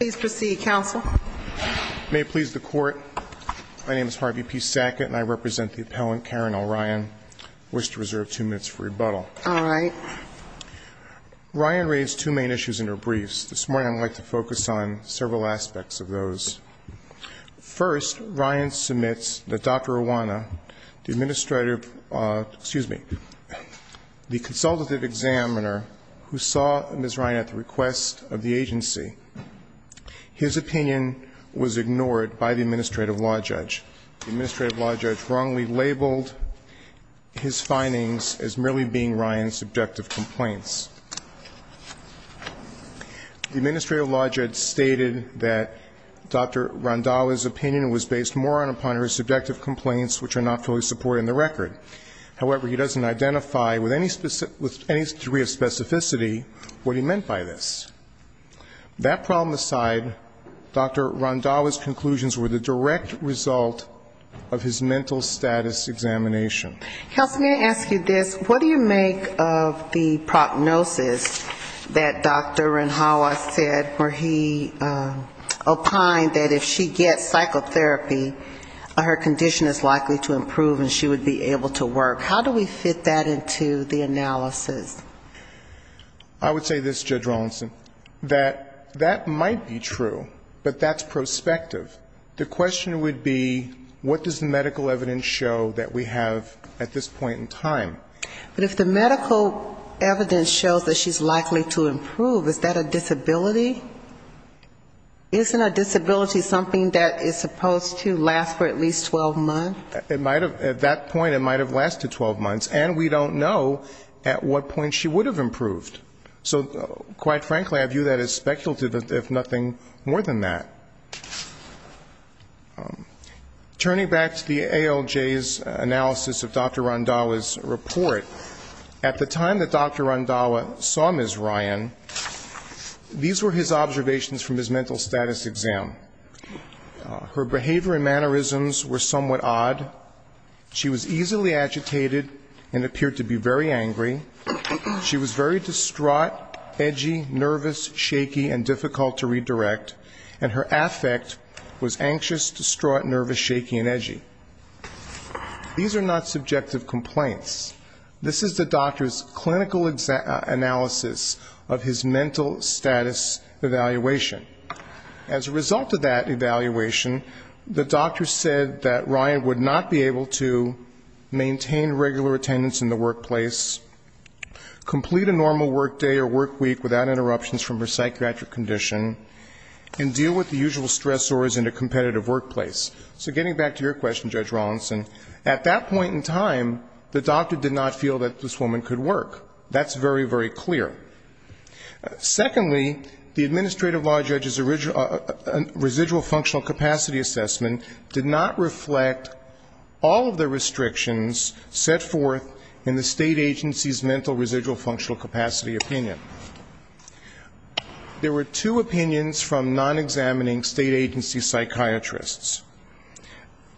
Please proceed, Counsel. May it please the Court, my name is Harvey P. Sackett and I represent the appellant Karen O'Ryan. I wish to reserve two minutes for rebuttal. All right. Ryan raised two main issues in her briefs. This morning I would like to focus on several aspects of those. First, Ryan submits that Dr. Iwana, the administrative the consultative examiner who saw Ms. Ryan at the request of the agency, his opinion was ignored by the administrative law judge. The administrative law judge wrongly labeled his findings as merely being Ryan's subjective complaints. The administrative law judge stated that Dr. Randhawa's opinion was based more upon her subjective complaints which are not fully supported in the record. However, he doesn't identify with any degree of specificity what he meant by this. That problem aside, Dr. Randhawa's conclusions were the direct result of his mental status examination. Counsel, may I ask you this? What do you make of the prognosis that Dr. Randhawa said where he opined that if she gets psychotherapy, her condition is likely to improve and she would be able to work? How do we fit that into the analysis? I would say this, Judge Rawlinson, that that might be true, but that's prospective. The question would be what does the medical evidence show that we have at this point in time? But if the medical evidence shows that she's likely to improve, is that a disability? Isn't a disability something that is supposed to last for at least 12 months? At that point it might have lasted 12 months, and we don't know at what point she would have improved. So quite frankly I view that as speculative, if nothing more than that. Turning back to the ALJ's analysis of Dr. Randhawa's report, at the time that Dr. Randhawa saw Ms. Ryan, these were his observations from his mental status exam. Her behavior and mannerisms were somewhat odd. She was easily agitated and appeared to be very angry. She was very distraught, edgy, nervous, shaky and difficult to redirect. And her affect was anxious, distraught, nervous, shaky and edgy. These are not subjective complaints. This is the doctor's clinical analysis of his mental condition. His mental status evaluation. As a result of that evaluation, the doctor said that Ryan would not be able to maintain regular attendance in the workplace, complete a normal work day or work week without interruptions from her psychiatric condition, and deal with the usual stressors in a competitive workplace. So getting back to your question, Judge Rawlinson, at that point in time the doctor did not feel that this woman could work. That's very, very clear. Secondly, the administrative law judge's residual functional capacity assessment did not reflect all of the restrictions set forth in the state agency's mental residual functional capacity opinion. There were two opinions from non-examining state agency psychiatrists.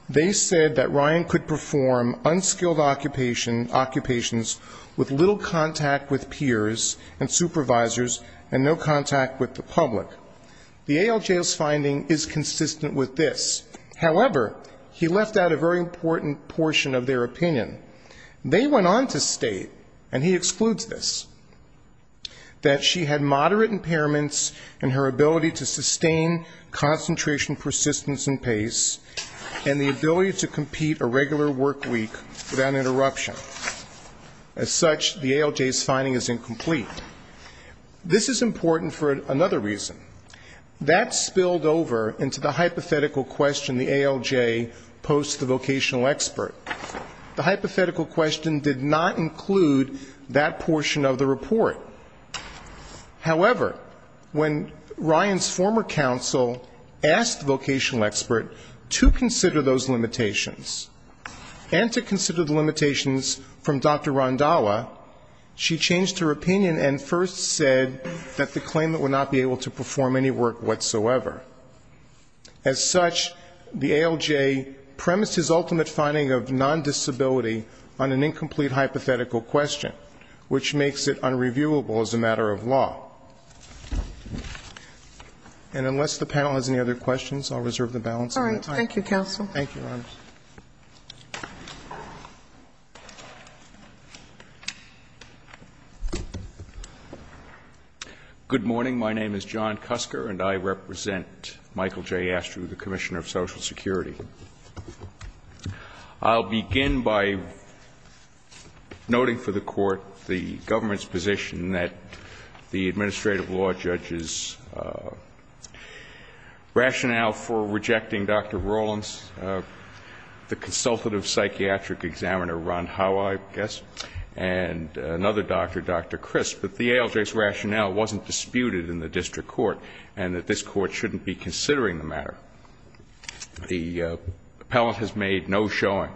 They said that Ryan could perform unskilled occupations with little contact with peers and supervisors and no contact with the public. The ALJ's finding is consistent with this. However, he left out a very important portion of their opinion. They went on to state, and he excludes this, that she had moderate impairments in her ability to sustain concentration, persistence and pace, and the ability to compete a regular work week without interruption. As such, the ALJ's finding is incomplete. This is important for another reason. That spilled over into the hypothetical question the ALJ posed to the vocational expert. The hypothetical question did not include that portion of the report. However, when Ryan's former counsel asked the vocational expert to consider those limitations and to consider the limitations from Dr. Rondalla, she changed her opinion and first said that the claimant would not be able to perform any work whatsoever. As such, the ALJ premised his ultimate finding of non-disability on an incomplete hypothetical question, which makes it unreviewable as a matter of law. And unless the panel has any other questions, I'll reserve the balance of my time. All right. Thank you, counsel. Thank you, Your Honors. Good morning. My name is John Kusker, and I represent Michael J. Astrew, the Commissioner of Social Security. I'll begin by noting for the Court the government's position that the administrative law judge's rationale for rejecting Dr. Rowlands, the consultative psychiatric examiner, Ron Howey, I guess, and another doctor, Dr. Crisp, that the ALJ's rationale wasn't disputed in the district court and that this Court shouldn't be considering the matter. The appellant has made no showing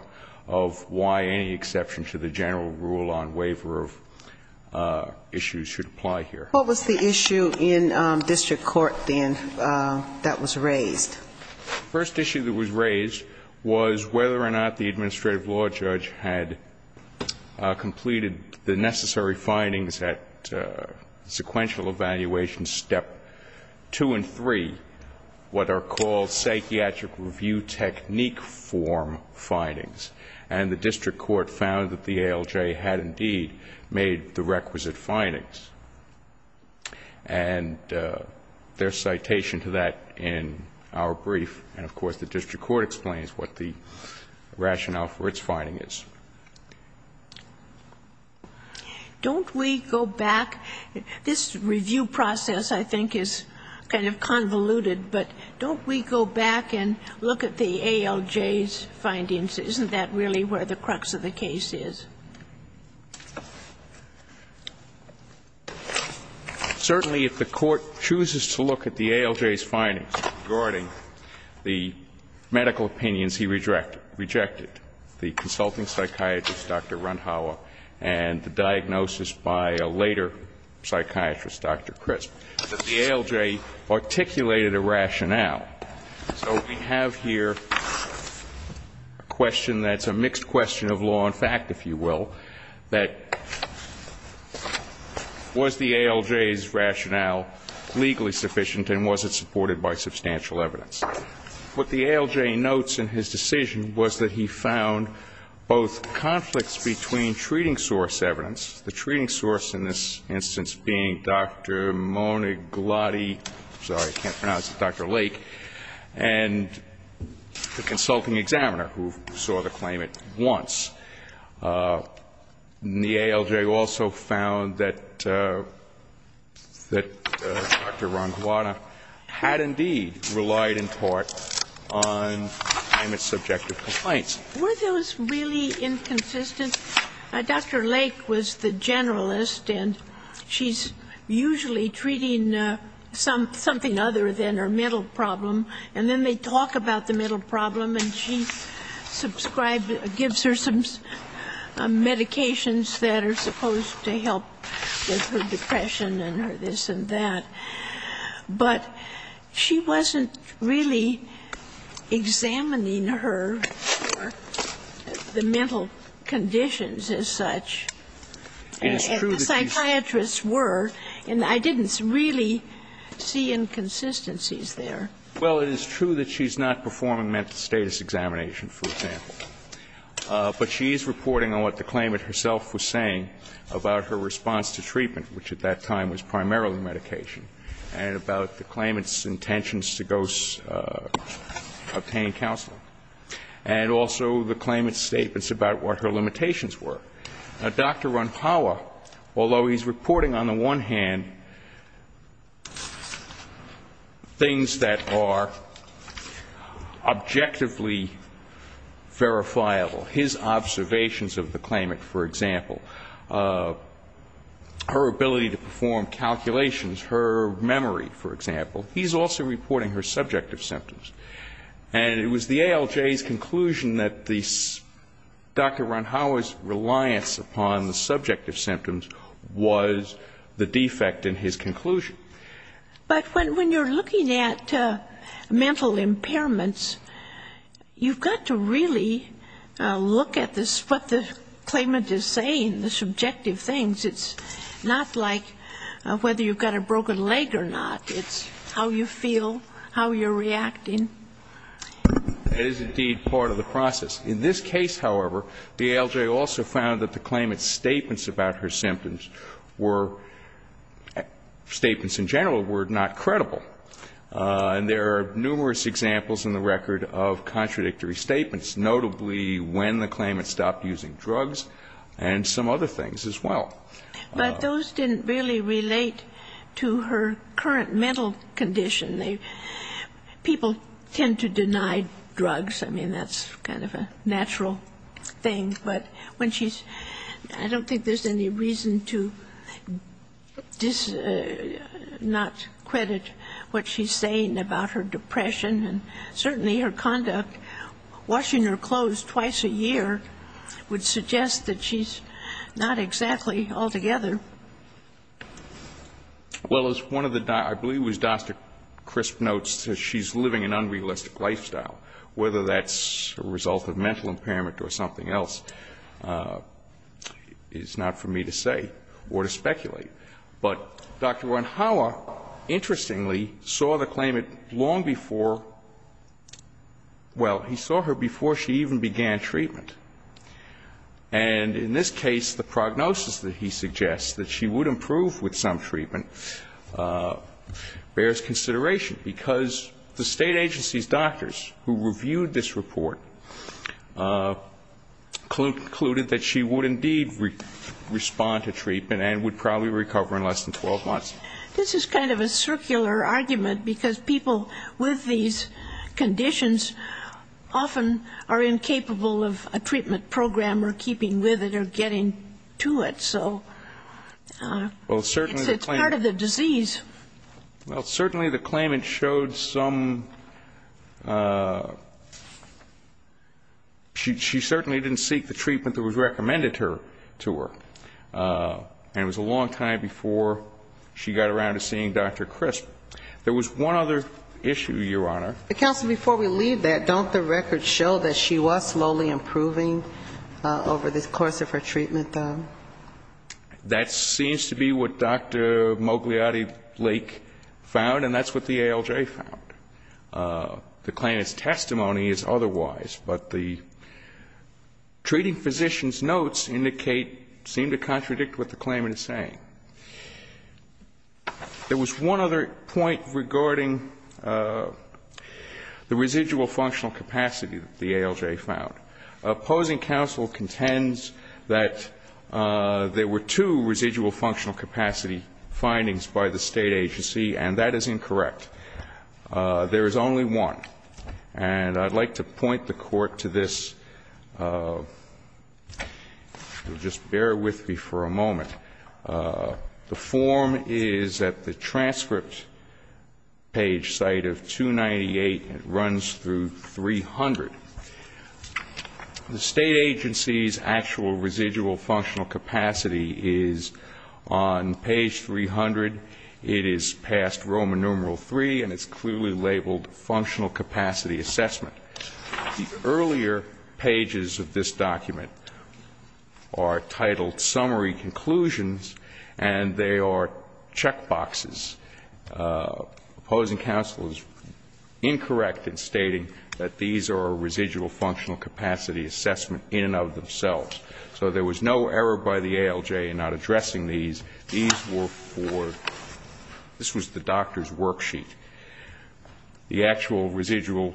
of why any exception to the general rule on waiver of issues should apply here. What was the issue in district court, then, that was raised? The first issue that was raised was whether or not the administrative law judge had completed the necessary findings at sequential evaluation, Step 2 and 3, what are called psychiatric review techniques. And the district court found that the ALJ had, indeed, made the requisite findings. And there's citation to that in our brief, and, of course, the district court explains what the rationale for its finding is. Don't we go back? This review process, I think, is kind of convoluted, but don't we go back and look at the ALJ's findings? Isn't that really where the crux of the case is? Certainly, if the Court chooses to look at the ALJ's findings regarding the medical opinions he rejected, the consulting psychiatrist, Dr. Runhauer, and the diagnosis by a later psychiatrist, Dr. Crisp, that the ALJ articulated a rationale. So we have here a question that's a mixed question of law and fact, if you will, that was the ALJ's rationale legally sufficient, and was it supported by substantial evidence? What the ALJ notes in his decision was that he found both conflicts between treating source evidence, the treating source in this instance being Dr. Lake, and the consulting examiner, who saw the claimant once. The ALJ also found that Dr. Runhauer had indeed relied in part on the claimant's subjective complaints. Were those really inconsistent? Dr. Lake was the generalist, and she's usually treating something other than her mental health. And she's always talking about the mental problem, and then they talk about the mental problem, and she subscribes, gives her some medications that are supposed to help with her depression and her this and that. But she wasn't really examining her, the mental conditions as such. And the psychiatrists were. And I didn't really see inconsistencies there. Well, it is true that she's not performing mental status examination, for example, but she is reporting on what the claimant herself was saying about her response to treatment, which at that time was primarily medication, and about the claimant's intentions to go obtain counseling, and also the claimant's statements about what her limitations were. Dr. Runhauer, although he's reporting on the one hand things that are objectively verifiable, his observations of the claimant, for example, her ability to perform calculations, her memory, for example, he's also reporting her subjective symptoms. And it was the ALJ's conclusion that Dr. Runhauer's reliance upon the subjective symptoms was the defect in his conclusion. But when you're looking at mental impairments, you've got to really look at this, what the claimant is saying, the subjective things. It's not like whether you've got a broken leg or not. It's how you feel, how you're reacting. That is indeed part of the process. In this case, however, the ALJ also found that the claimant's statements about her symptoms were, statements in general, were not credible. And there are numerous examples in the record of contradictory statements, notably when the claimant stopped using drugs and some other things as well. But those didn't really relate to her current mental condition. People tend to deny drugs. I mean, that's kind of a natural thing. But when she's ‑‑ I don't think there's any reason to not credit what she's saying about her depression. And certainly her conduct, washing her clothes twice a year would suggest that she's not exactly all together. Well, as one of the ‑‑ I believe it was Dr. Crisp notes, she's living an unrealistic lifestyle. Whether that's a result of mental impairment or something else is not for me to say or to speculate. But Dr. Ronhauer, interestingly, saw the claimant long before ‑‑ well, he saw her before she even began treatment. And in this case, the prognosis that he suggests, that she would improve with some treatment bears consideration. Because the State agency's doctors who reviewed this report concluded that she would indeed respond to treatment and would probably recover in less than 12 months. This is kind of a circular argument because people with these conditions often are not responding to it. So it's part of the disease. Well, certainly the claimant showed some ‑‑ she certainly didn't seek the treatment that was recommended to her. And it was a long time before she got around to seeing Dr. Crisp. There was one other issue, Your Honor. Counsel, before we leave that, don't the records show that she was slowly improving over the course of her treatment, though? That seems to be what Dr. Mogliotti-Blake found, and that's what the ALJ found. The claimant's testimony is otherwise. But the treating physician's notes indicate ‑‑ seem to contradict what the claimant is saying. There was one other point regarding the residual functional capacity that the ALJ found. Opposing counsel contends that there were two residual functional capacity findings by the State agency, and that is incorrect. There is only one. And I'd like to point the Court to this. Just bear with me for a moment. The form is at the transcript page site of 298. It runs through 300. The State agency's actual residual functional capacity is on page 300. It is past Roman numeral III, and it's clearly labeled functional capacity assessment. The earlier pages of this document are titled summary conclusions, and they are check marks. Opposing counsel is incorrect in stating that these are residual functional capacity assessment in and of themselves. So there was no error by the ALJ in not addressing these. These were for ‑‑ this was the doctor's worksheet. The actual residual,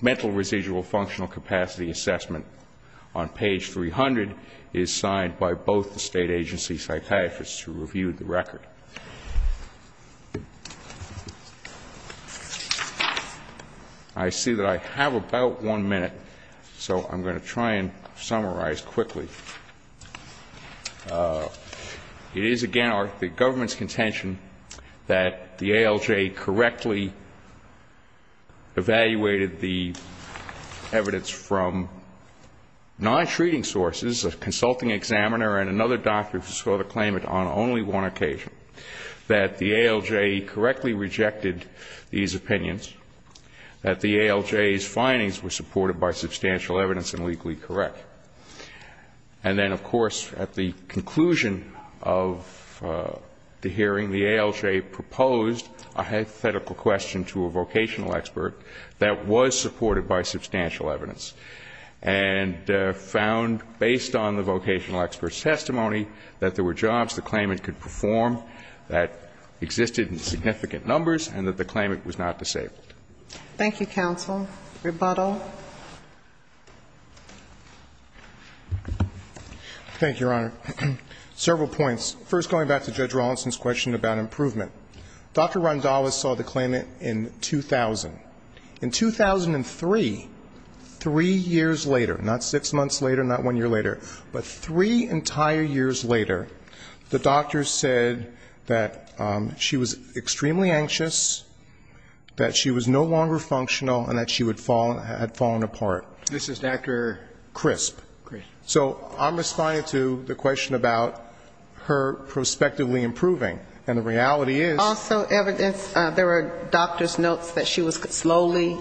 mental residual functional capacity assessment on page 300 is signed by both the State agency psychiatrists who reviewed the record. I see that I have about one minute, so I'm going to try and summarize quickly. It is, again, the government's contention that the ALJ correctly evaluated the evidence from non‑treating sources, a consulting examiner and another doctor who saw the claimant on only one occasion, that the ALJ correctly rejected these opinions, that the ALJ's findings were supported by substantial evidence and legally correct. And then, of course, at the conclusion of the hearing, the ALJ proposed a hypothetical question to a vocational expert that was supported by substantial evidence and found, based on the vocational expert's testimony, that there were jobs the claimant could perform that existed in significant numbers and that the claimant was not disabled. Thank you, counsel. Rebuttal. Thank you, Your Honor. Several points. First, going back to Judge Rawlinson's question about improvement. Dr. Randallis saw the claimant in 2000. In 2003, three years later, not six months later, not one year later, but three entire years later, the doctor said that she was extremely anxious, that she was no longer functional, and that she had fallen apart. This is after? CRISP. So I'm responding to the question about her prospectively improving. And the reality is Also evidence, there were doctor's notes that she was slowly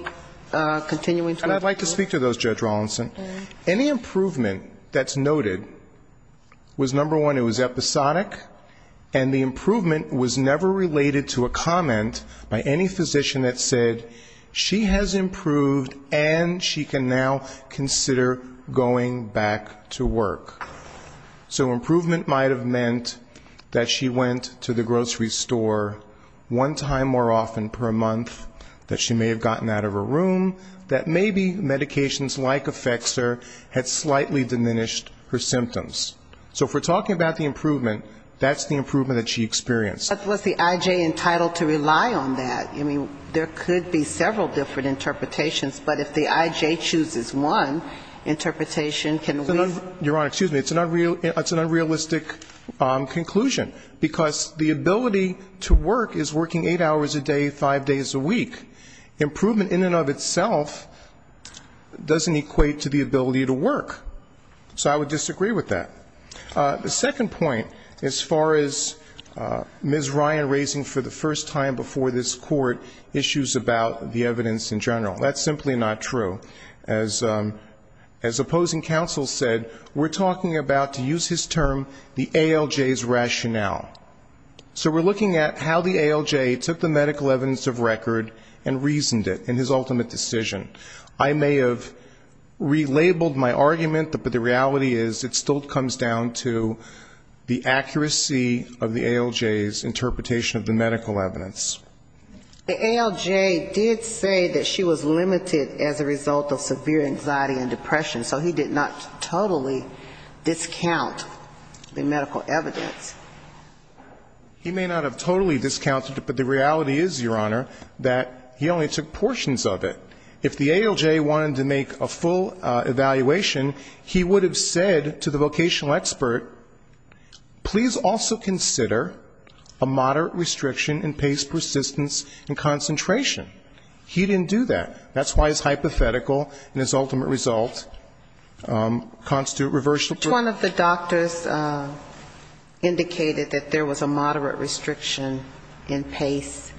continuing to improve. I'd like to speak to those, Judge Rawlinson. Any improvement that's noted was, number one, it was episodic, and the improvement was never related to a comment by any physician that said she has improved and she can now consider going back to work. So improvement might have meant that she went to the grocery store one time more often per month, that she may have gotten out of her room, that maybe medications like Effexor had slightly diminished her symptoms. So if we're talking about the improvement, that's the improvement that she experienced. But was the I.J. entitled to rely on that? I mean, there could be several different interpretations, but if the I.J. chooses one interpretation, can we Your Honor, excuse me, it's an unrealistic conclusion, because the ability to work is working eight hours a day, five days a week. Improvement in and of itself doesn't equate to the ability to work. So I would disagree with that. The second point, as far as Ms. Ryan raising for the first time before this Court issues about the evidence in general, that's simply not true. As opposing counsel said, we're talking about, to use his term, the ALJ's extensive record and reasoned it in his ultimate decision. I may have relabeled my argument, but the reality is it still comes down to the accuracy of the ALJ's interpretation of the medical evidence. The ALJ did say that she was limited as a result of severe anxiety and depression, so he did not totally discount the medical evidence. He may not have totally discounted it, but the reality is, Your Honor, that he only took portions of it. If the ALJ wanted to make a full evaluation, he would have said to the vocational expert, please also consider a moderate restriction in pace, persistence and concentration. He didn't do that. That's why his hypothetical and his ultimate result constitute reversal. One of the doctors indicated that there was a moderate restriction in pace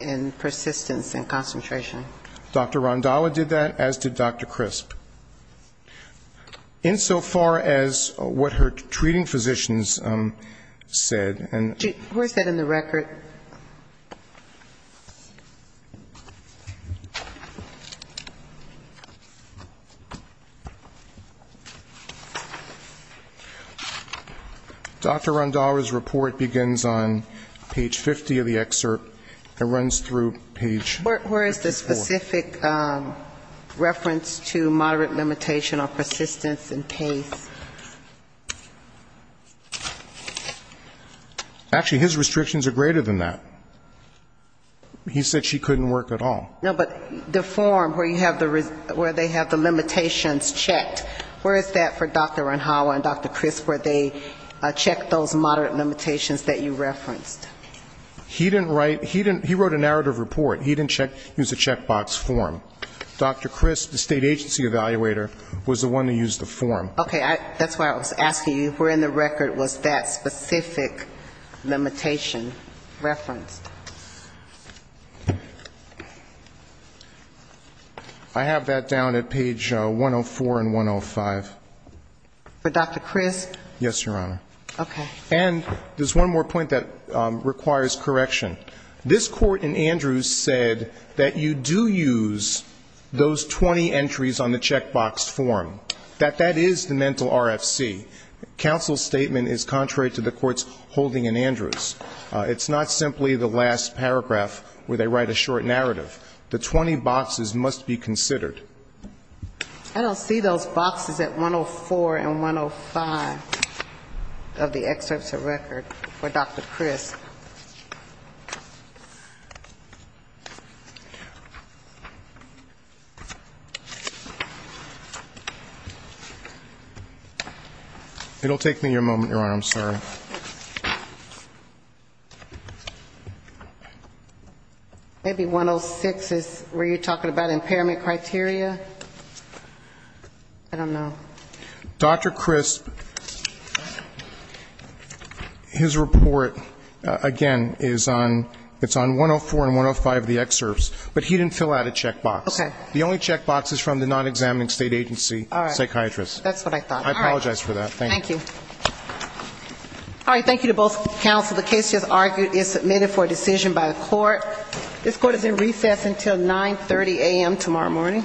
and persistence and concentration. Dr. Rondalla did that, as did Dr. Crisp. Insofar as what her treating physicians said. Who is that in the record? Dr. Rondalla's report begins on page 50 of the excerpt and runs through page 54. Where is the specific reference to moderate limitation of persistence and pace? Actually, his restrictions are greater than that. He said she couldn't work at all. No, but the form where they have the limitations checked, where is that for Dr. Rondalla? And Dr. Crisp, where they check those moderate limitations that you referenced? He didn't write, he wrote a narrative report. He didn't use a checkbox form. Dr. Crisp, the state agency evaluator, was the one who used the form. Okay. That's why I was asking you, where in the record was that specific limitation referenced? I have that down at page 104 and 105. For Dr. Crisp? Yes, Your Honor. Okay. And there's one more point that requires correction. This Court in Andrews said that you do use those 20 entries on the checkbox form, that that is the mental RFC. Counsel's statement is contrary to the Court's holding in Andrews. It's not simply the last paragraph where they write a short narrative. The 20 boxes must be considered. I don't see those boxes at 104 and 105 of the excerpts of record for Dr. Crisp. It'll take me a moment, Your Honor. I'm sorry. Maybe 106 is where you're talking about impairment criteria? I don't know. Dr. Crisp, his report, again, is on, it's on 104 and 105 of the excerpts, but he didn't fill out a checkbox. Okay. The only checkbox is from the non-examining state agency psychiatrist. That's what I thought. I apologize for that. Thank you. All right. Thank you to both counsel. The case, as argued, is submitted for a decision by the Court. This Court is in recess until 9.30 a.m. tomorrow morning. Thank you.